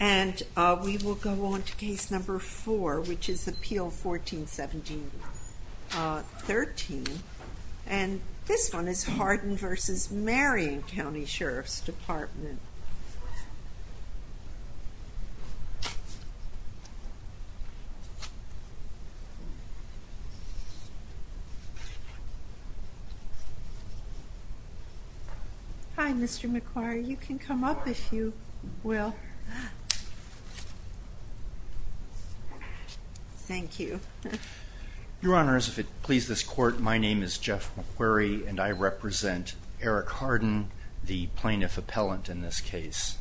And we will go on to case number four, which is Appeal 14-17-13, and this one is Harden v. Marion County Sheriff's Department. Hi, Mr. McQuarrie. You can come up if you will. Thank you. Your Honor, as it pleases this Court, my name is Jeff McQuarrie, and I represent Eric Harden, the plaintiff appellant in this case.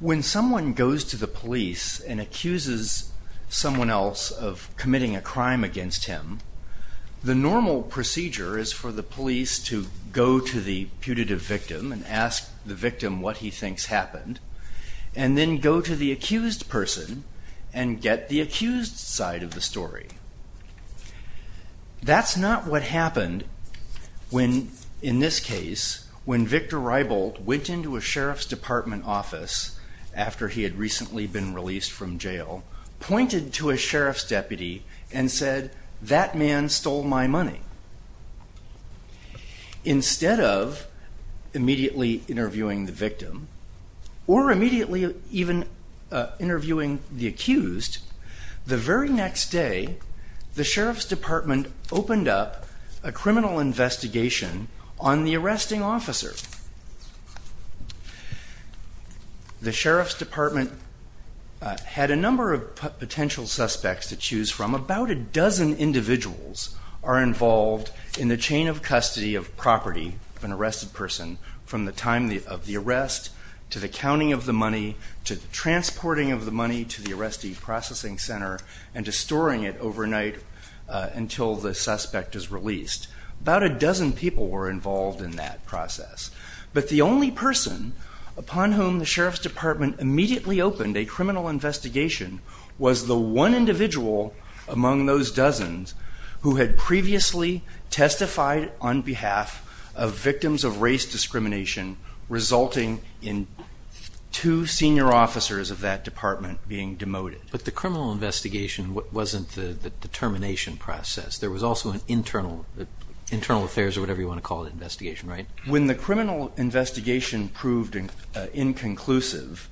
When someone goes to the police and accuses someone else of committing a crime against him, the normal procedure is for the police to go to the putative victim and ask the victim what he thinks happened, and then go to the accused person and get the accused side of the story. That's not what happened when, in this case, when Victor Rybold went into a sheriff's department office after he had recently been released from jail, pointed to a sheriff's deputy, and said, that man stole my money. Instead of immediately interviewing the victim, or immediately even interviewing the accused, the very next day, the sheriff's department opened up a criminal investigation on the arresting officer. The sheriff's department had a number of potential suspects to choose from. About a dozen individuals are involved in the chain of custody of property of an arrested person from the time of the arrest, to the counting of the money, to the transporting of the money to the arrestee processing center, and to storing it overnight until the suspect is released. About a dozen people were involved in that process. But the only person upon whom the sheriff's department immediately opened a criminal investigation was the one individual among those dozens who had previously testified on behalf of victims of race discrimination, resulting in two senior officers of that department being demoted. But the criminal investigation wasn't the determination process. There was also an internal affairs, or whatever you want to call it, investigation, right? When the criminal investigation proved inconclusive,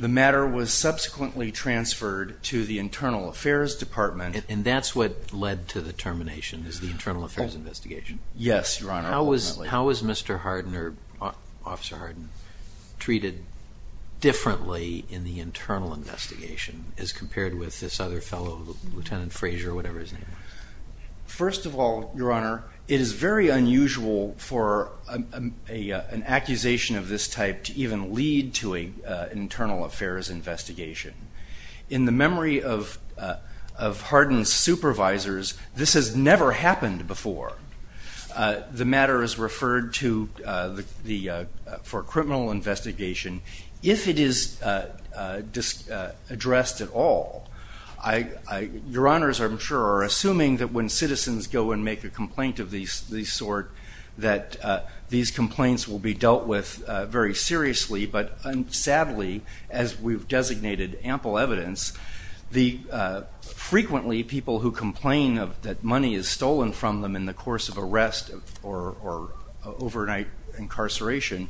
the matter was subsequently transferred to the internal affairs department. And that's what led to the termination, is the internal affairs investigation? Yes, Your Honor. How was Mr. Hardin, or Officer Hardin, treated differently in the internal investigation as compared with this other fellow, Lieutenant Frazier, or whatever his name was? First of all, Your Honor, it is very unusual for an accusation of this type to even lead to an internal affairs investigation. In the memory of Hardin's supervisors, this has never happened before. The matter is referred to for criminal investigation, if it is addressed at all. Your Honors, I'm sure, are assuming that when citizens go and make a complaint of this sort, that these complaints will be dealt with very seriously. But sadly, as we've designated ample evidence, frequently people who complain that money is stolen from them in the course of arrest or overnight incarceration,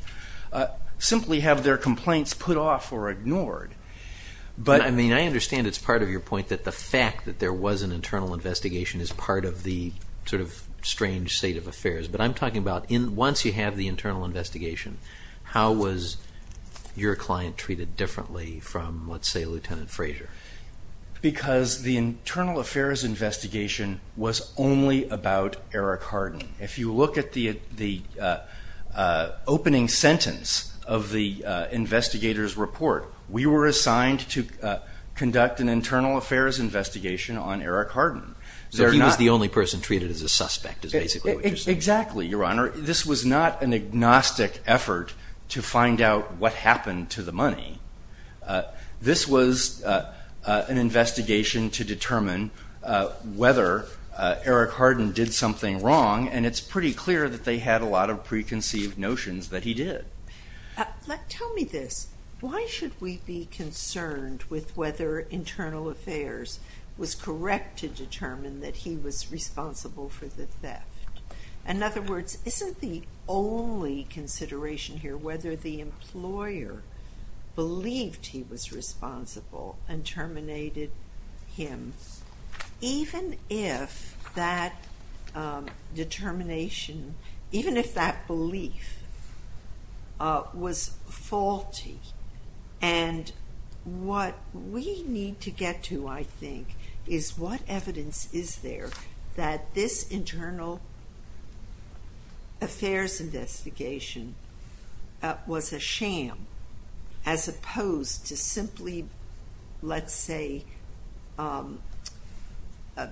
simply have their complaints put off or ignored. I understand it's part of your point that the fact that there was an internal investigation is part of the strange state of affairs. But I'm talking about once you have the internal investigation, how was your client treated differently from, let's say, Lieutenant Frazier? Because the internal affairs investigation was only about Eric Hardin. If you look at the opening sentence of the investigator's report, we were assigned to conduct an internal affairs investigation on Eric Hardin. So he was the only person treated as a suspect, is basically what you're saying. Exactly, Your Honor. This was not an agnostic effort to find out what happened to the money. This was an investigation to determine whether Eric Hardin did something wrong, and it's pretty clear that they had a lot of preconceived notions that he did. Tell me this. Why should we be concerned with whether internal affairs was correct to determine that he was responsible for the theft? In other words, isn't the only consideration here whether the employer believed he was responsible and terminated him, even if that belief was faulty? And what we need to get to, I think, is what evidence is there that this internal affairs investigation was a sham as opposed to simply, let's say,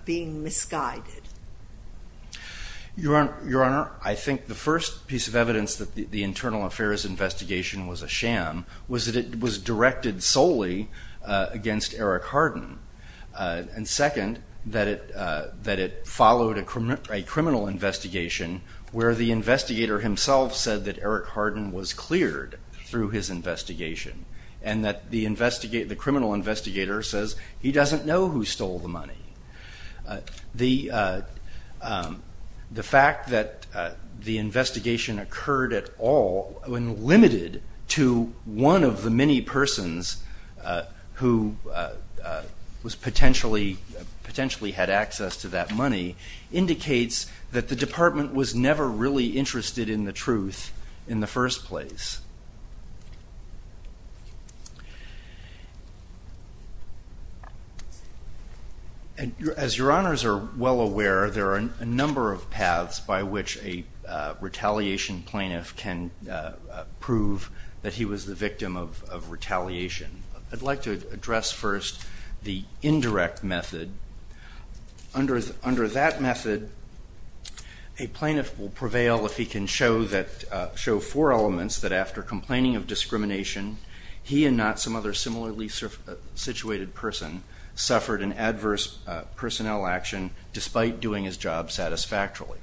being misguided? Your Honor, I think the first piece of evidence that the internal affairs investigation was a sham was that it was directed solely against Eric Hardin. And second, that it followed a criminal investigation where the investigator himself said that Eric Hardin was cleared through his investigation, and that the criminal investigator says he doesn't know who stole the money. The fact that the investigation occurred at all, when limited to one of the many persons who potentially had access to that money, indicates that the department was never really interested in the truth in the first place. As Your Honors are well aware, there are a number of paths by which a retaliation plaintiff can prove that he was the victim of retaliation. I'd like to address first the indirect method. Under that method, a plaintiff will prevail if he can show four elements that after complaining of discrimination, he and not some other similarly situated person suffered an adverse personnel action despite doing his job satisfactorily.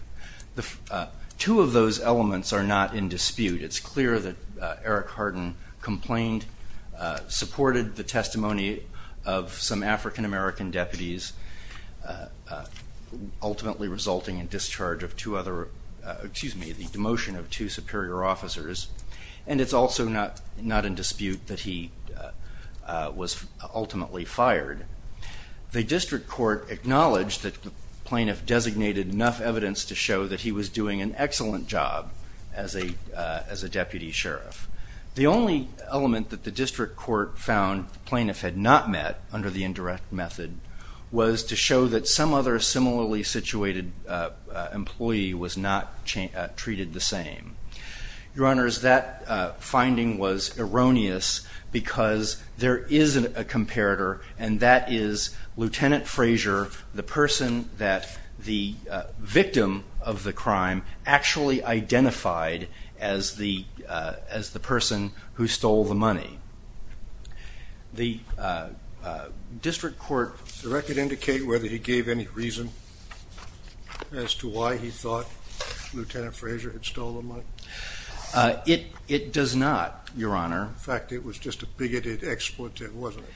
Two of those elements are not in dispute. It's clear that Eric Hardin complained, supported the testimony of some African American deputies, ultimately resulting in discharge of two other, excuse me, the demotion of two superior officers. And it's also not in dispute that he was ultimately fired. The district court acknowledged that the plaintiff designated enough evidence to show that he was doing an excellent job as a deputy sheriff. The only element that the district court found the plaintiff had not met under the indirect method was to show that some other similarly situated employee was not treated the same. Your Honors, that finding was erroneous because there is a comparator, and that is Lieutenant Frazier, the person that the victim of the crime actually identified as the person who stole the money. The district court... Does the record indicate whether he gave any reason as to why he thought Lieutenant Frazier had stolen the money? It does not, Your Honor. In fact, it was just a bigoted expletive, wasn't it?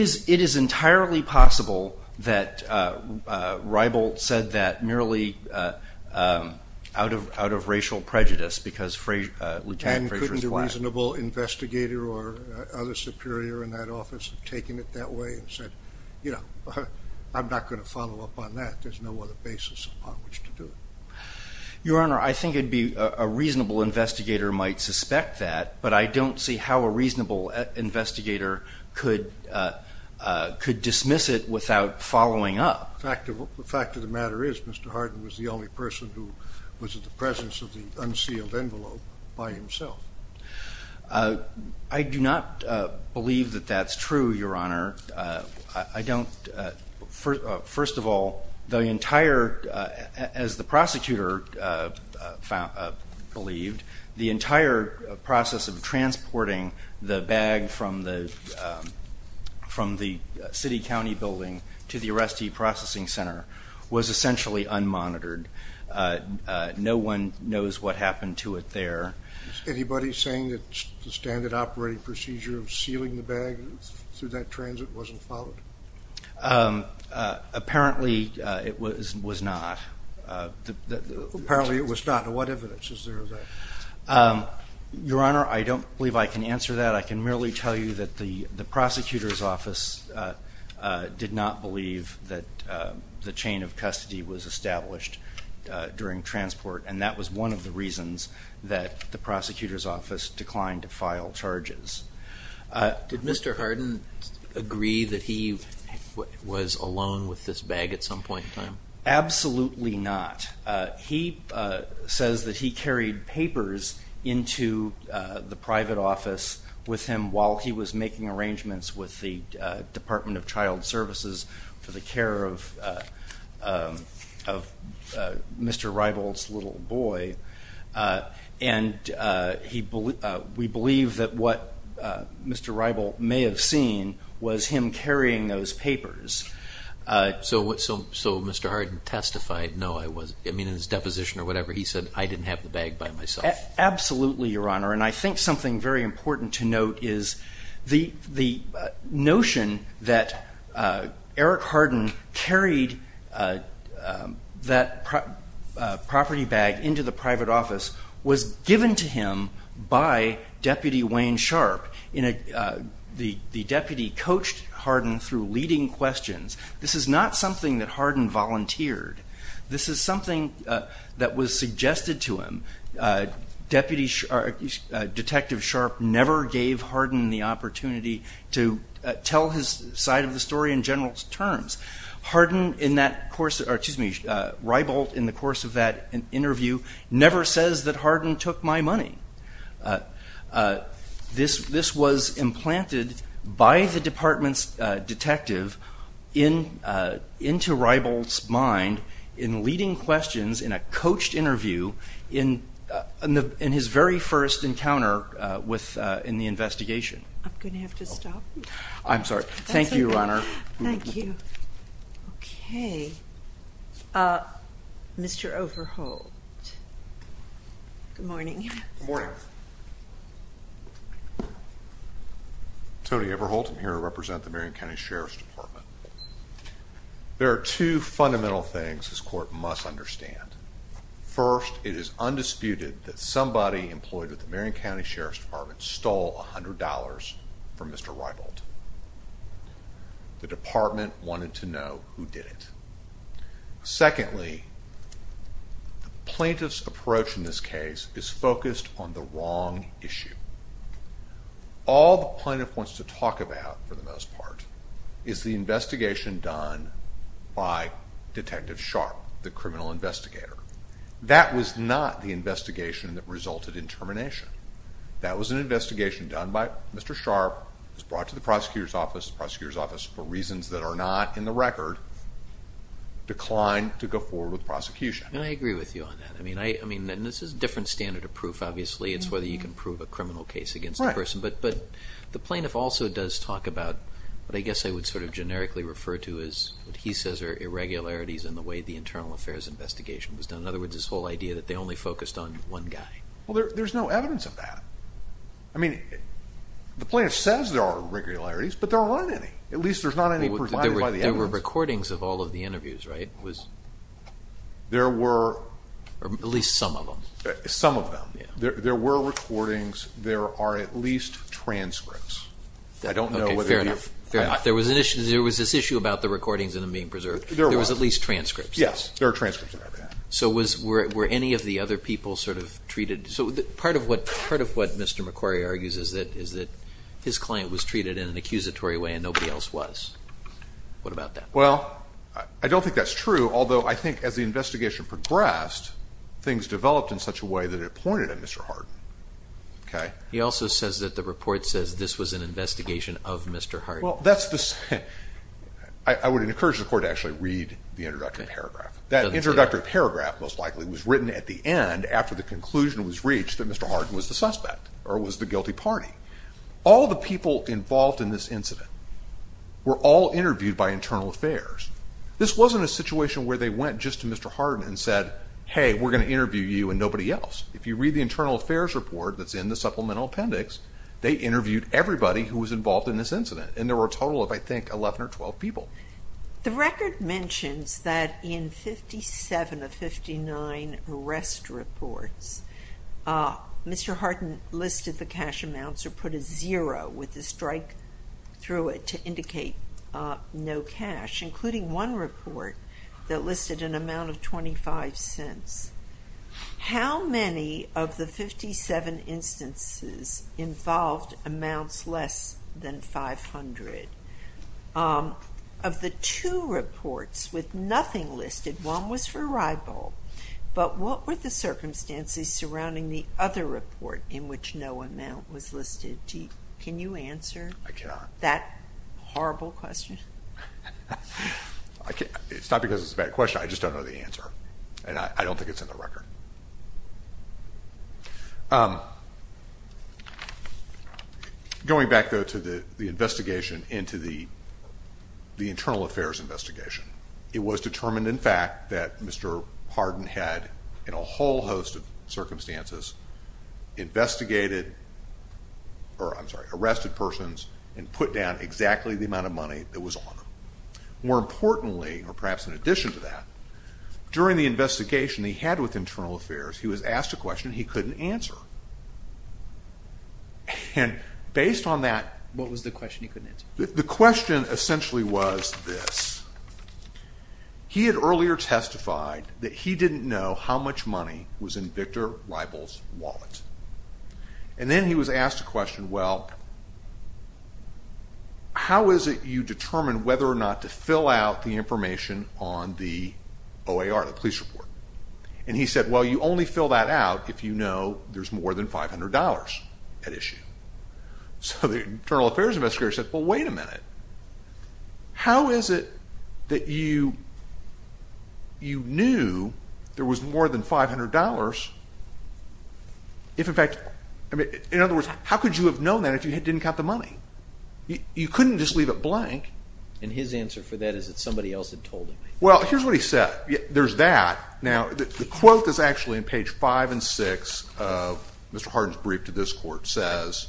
It is entirely possible that Reibold said that merely out of racial prejudice because Lieutenant Frazier is black. A reasonable investigator or other superior in that office had taken it that way and said, you know, I'm not going to follow up on that. There's no other basis upon which to do it. Your Honor, I think a reasonable investigator might suspect that, but I don't see how a reasonable investigator could dismiss it without following up. The fact of the matter is Mr. Hardin was the only person who was in the presence of the unsealed envelope by himself. I do not believe that that's true, Your Honor. First of all, as the prosecutor believed, the entire process of transporting the bag from the city county building to the arrestee processing center was essentially unmonitored. No one knows what happened to it there. Is anybody saying that the standard operating procedure of sealing the bag through that transit wasn't followed? Apparently it was not. Apparently it was not. What evidence is there of that? Your Honor, I don't believe I can answer that. I can merely tell you that the prosecutor's office did not believe that the chain of custody was established during transport, and that was one of the reasons that the prosecutor's office declined to file charges. Did Mr. Hardin agree that he was alone with this bag at some point in time? Absolutely not. He says that he carried papers into the private office with him while he was making arrangements with the Department of Child Services for the care of Mr. Reibold's little boy, and we believe that what Mr. Reibold may have seen was him carrying those papers. So Mr. Hardin testified, no, I wasn't. I mean, in his deposition or whatever, he said, I didn't have the bag by myself. Absolutely, Your Honor. And I think something very important to note is the notion that Eric Hardin carried that property bag into the private office was given to him by Deputy Wayne Sharp. The deputy coached Hardin through leading questions. This is not something that Hardin volunteered. This is something that was suggested to him. Detective Sharp never gave Hardin the opportunity to tell his side of the story in general terms. Reibold, in the course of that interview, never says that Hardin took my money. This was implanted by the department's detective into Reibold's mind in leading questions in a coached interview in his very first encounter in the investigation. I'm going to have to stop. I'm sorry. Thank you, Your Honor. Thank you. Okay. Mr. Overholt. Good morning. Good morning. Tony Overholt. I'm here to represent the Marion County Sheriff's Department. There are two fundamental things this court must understand. First, it is undisputed that somebody employed with the Marion County Sheriff's Department stole $100 from Mr. Reibold. The department wanted to know who did it. Secondly, the plaintiff's approach in this case is focused on the wrong issue. All the plaintiff wants to talk about, for the most part, is the investigation done by Detective Sharp, the criminal investigator. That was not the investigation that resulted in termination. That was an investigation done by Mr. Sharp. It was brought to the prosecutor's office. The prosecutor's office, for reasons that are not in the record, declined to go forward with the prosecution. And I agree with you on that. I mean, this is a different standard of proof, obviously. It's whether you can prove a criminal case against a person. But the plaintiff also does talk about what I guess I would sort of generically refer to as what he says are irregularities in the way the internal affairs investigation was done. In other words, this whole idea that they only focused on one guy. Well, there's no evidence of that. I mean, the plaintiff says there are irregularities, but there aren't any. At least there's not any provided by the evidence. There were recordings of all of the interviews, right? There were. Or at least some of them. Some of them. There were recordings. There are at least transcripts. Okay, fair enough. There was this issue about the recordings and them being preserved. There was at least transcripts. Yes, there are transcripts of everything. So were any of the other people sort of treated? So part of what Mr. McQuarrie argues is that his client was treated in an accusatory way and nobody else was. What about that? Well, I don't think that's true, although I think as the investigation progressed, things developed in such a way that it pointed at Mr. Harden. Okay? He also says that the report says this was an investigation of Mr. Harden. Well, that's the same. I would encourage the Court to actually read the introductory paragraph. That introductory paragraph most likely was written at the end after the conclusion was reached that Mr. Harden was the suspect or was the guilty party. All the people involved in this incident were all interviewed by Internal Affairs. This wasn't a situation where they went just to Mr. Harden and said, hey, we're going to interview you and nobody else. If you read the Internal Affairs report that's in the supplemental appendix, they interviewed everybody who was involved in this incident, and there were a total of, I think, 11 or 12 people. The record mentions that in 57 of 59 arrest reports, Mr. Harden listed the cash amounts or put a zero with a strike through it to indicate no cash, including one report that listed an amount of 25 cents. How many of the 57 instances involved amounts less than 500? Of the two reports with nothing listed, one was for Riebold, but what were the circumstances surrounding the other report in which no amount was listed? Can you answer that horrible question? It's not because it's a bad question. I just don't know the answer. And I don't think it's in the record. Going back, though, to the investigation into the Internal Affairs investigation, it was determined, in fact, that Mr. Harden had, in a whole host of circumstances, arrested persons and put down exactly the amount of money that was on them. More importantly, or perhaps in addition to that, during the investigation he had with Internal Affairs, he was asked a question he couldn't answer. And based on that, the question essentially was this. He had earlier testified that he didn't know how much money was in Victor Riebold's wallet. And then he was asked a question, well, how is it you determine whether or not to fill out the information on the OAR, the police report? And he said, well, you only fill that out if you know there's more than $500 at issue. So the Internal Affairs investigator said, well, wait a minute. How is it that you knew there was more than $500 if, in fact, in other words, how could you have known that if you didn't count the money? You couldn't just leave it blank. And his answer for that is that somebody else had told him. Well, here's what he said. There's that. Now, the quote that's actually on page 5 and 6 of Mr. Harden's brief to this court says,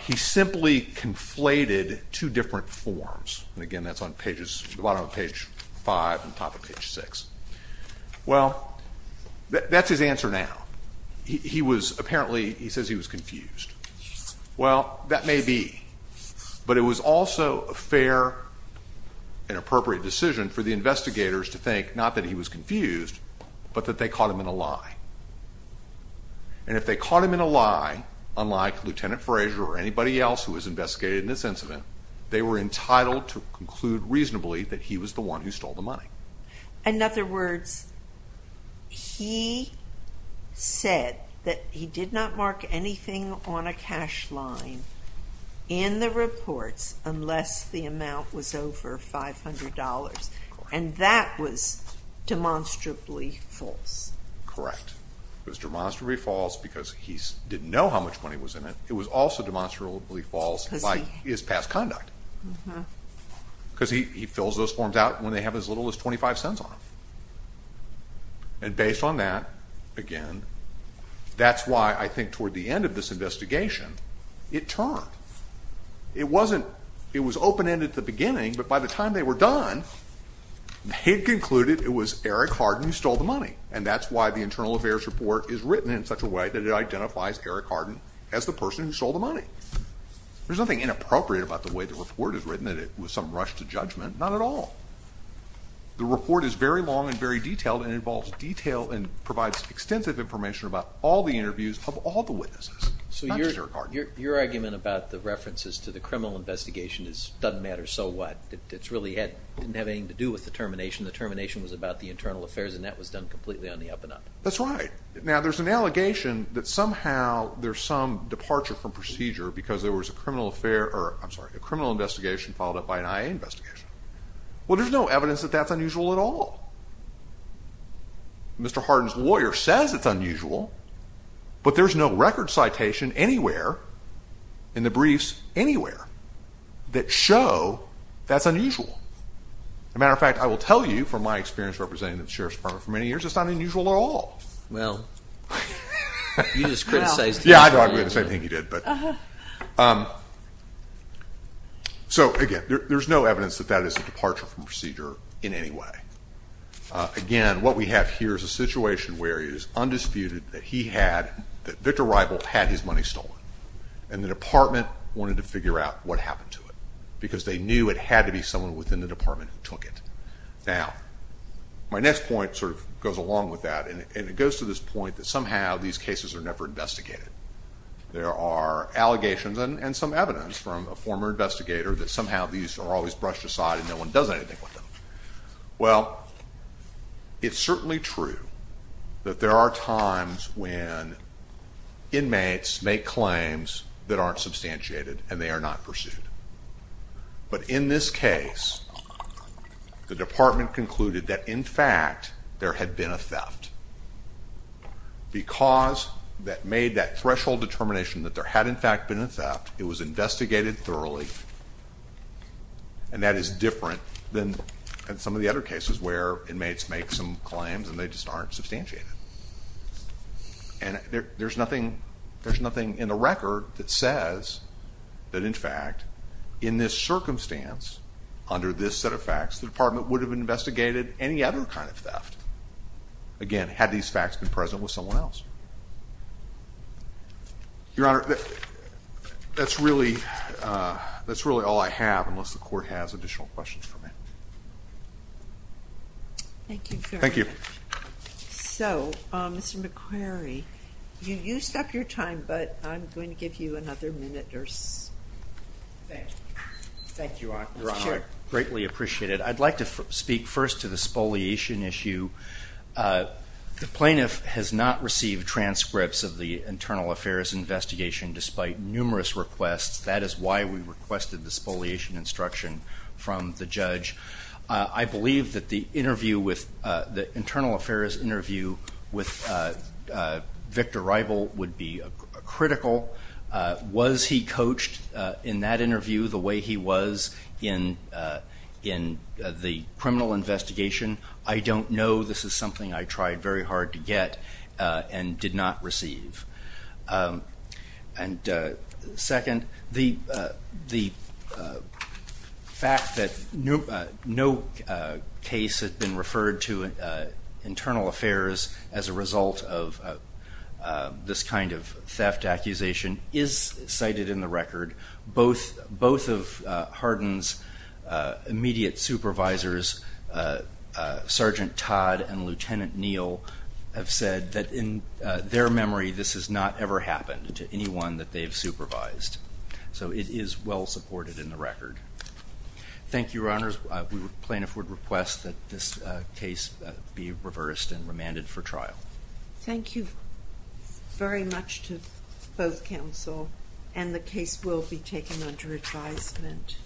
he simply conflated two different forms. And again, that's on the bottom of page 5 and top of page 6. Well, that's his answer now. He was apparently, he says he was confused. Well, that may be. But it was also a fair and appropriate decision for the investigators to think not that he was confused, but that they caught him in a lie. And if they caught him in a lie, unlike Lieutenant Fraser or anybody else who was investigated in this incident, they were entitled to conclude reasonably that he was the one who stole the money. In other words, he said that he did not mark anything on a cash line in the reports unless the amount was over $500. And that was demonstrably false. Correct. It was demonstrably false because he didn't know how much money was in it. It was also demonstrably false by his past conduct. Because he fills those forms out when they have as little as 25 cents on them. And based on that, again, that's why I think toward the end of this investigation, it turned. It wasn't, it was open-ended at the beginning, but by the time they were done, they'd concluded it was Eric Hardin who stole the money. And that's why the internal affairs report is written in such a way that it identifies Eric Hardin as the person who stole the money. There's nothing inappropriate about the way the report is written, that it was some rush to judgment. Not at all. The report is very long and very detailed and involves detail and provides extensive information about all the interviews of all the witnesses. Not just Eric Hardin. So your argument about the references to the criminal investigation is it doesn't matter so what. It really didn't have anything to do with the termination. The termination was about the internal affairs, and that was done completely on the up-and-up. That's right. Now, there's an allegation that somehow there's some departure from procedure because there was a criminal investigation followed up by an IA investigation. Well, there's no evidence that that's unusual at all. Mr. Hardin's lawyer says it's unusual, but there's no record citation anywhere in the briefs anywhere that show that's unusual. As a matter of fact, I will tell you from my experience representing the Sheriff's Department for many years, it's not unusual at all. Well, you just criticized him. Yeah, I thought we had the same thing he did. So, again, there's no evidence that that is a departure from procedure in any way. Again, what we have here is a situation where it is undisputed that he had, that Victor Reibel had his money stolen, and the department wanted to figure out what happened to it because they knew it had to be someone within the department who took it. Now, my next point sort of goes along with that, and it goes to this point that somehow these cases are never investigated. There are allegations and some evidence from a former investigator that somehow these are always brushed aside and no one does anything with them. Well, it's certainly true that there are times when inmates make claims that aren't substantiated and they are not pursued. But in this case, the department concluded that, in fact, there had been a theft. Because that made that threshold determination that there had, in fact, been a theft, it was investigated thoroughly, and that is different than some of the other cases where inmates make some claims and they just aren't substantiated. And there's nothing in the record that says that, in fact, in this circumstance, under this set of facts, the department would have investigated any other kind of theft, again, had these facts been present with someone else. Your Honor, that's really all I have, unless the court has additional questions for me. Thank you very much. Thank you. So, Mr. McQuarrie, you used up your time, but I'm going to give you another minute or so. Thank you, Your Honor. I greatly appreciate it. I'd like to speak first to the spoliation issue. The plaintiff has not received transcripts of the internal affairs investigation, despite numerous requests. That is why we requested the spoliation instruction from the judge. I believe that the internal affairs interview with Victor Rival would be critical. Was he coached in that interview the way he was in the criminal investigation? I don't know. This is something I tried very hard to get and did not receive. And, second, the fact that no case has been referred to internal affairs as a result of this kind of theft accusation is cited in the record. Both of Harden's immediate supervisors, Sergeant Todd and Lieutenant Neal, have said that in their memory this has not ever happened to anyone that they've supervised. So it is well supported in the record. Thank you, Your Honors. We, the plaintiff, would request that this case be reversed and remanded for trial. Thank you very much to both counsel. And the case will be taken under advisement.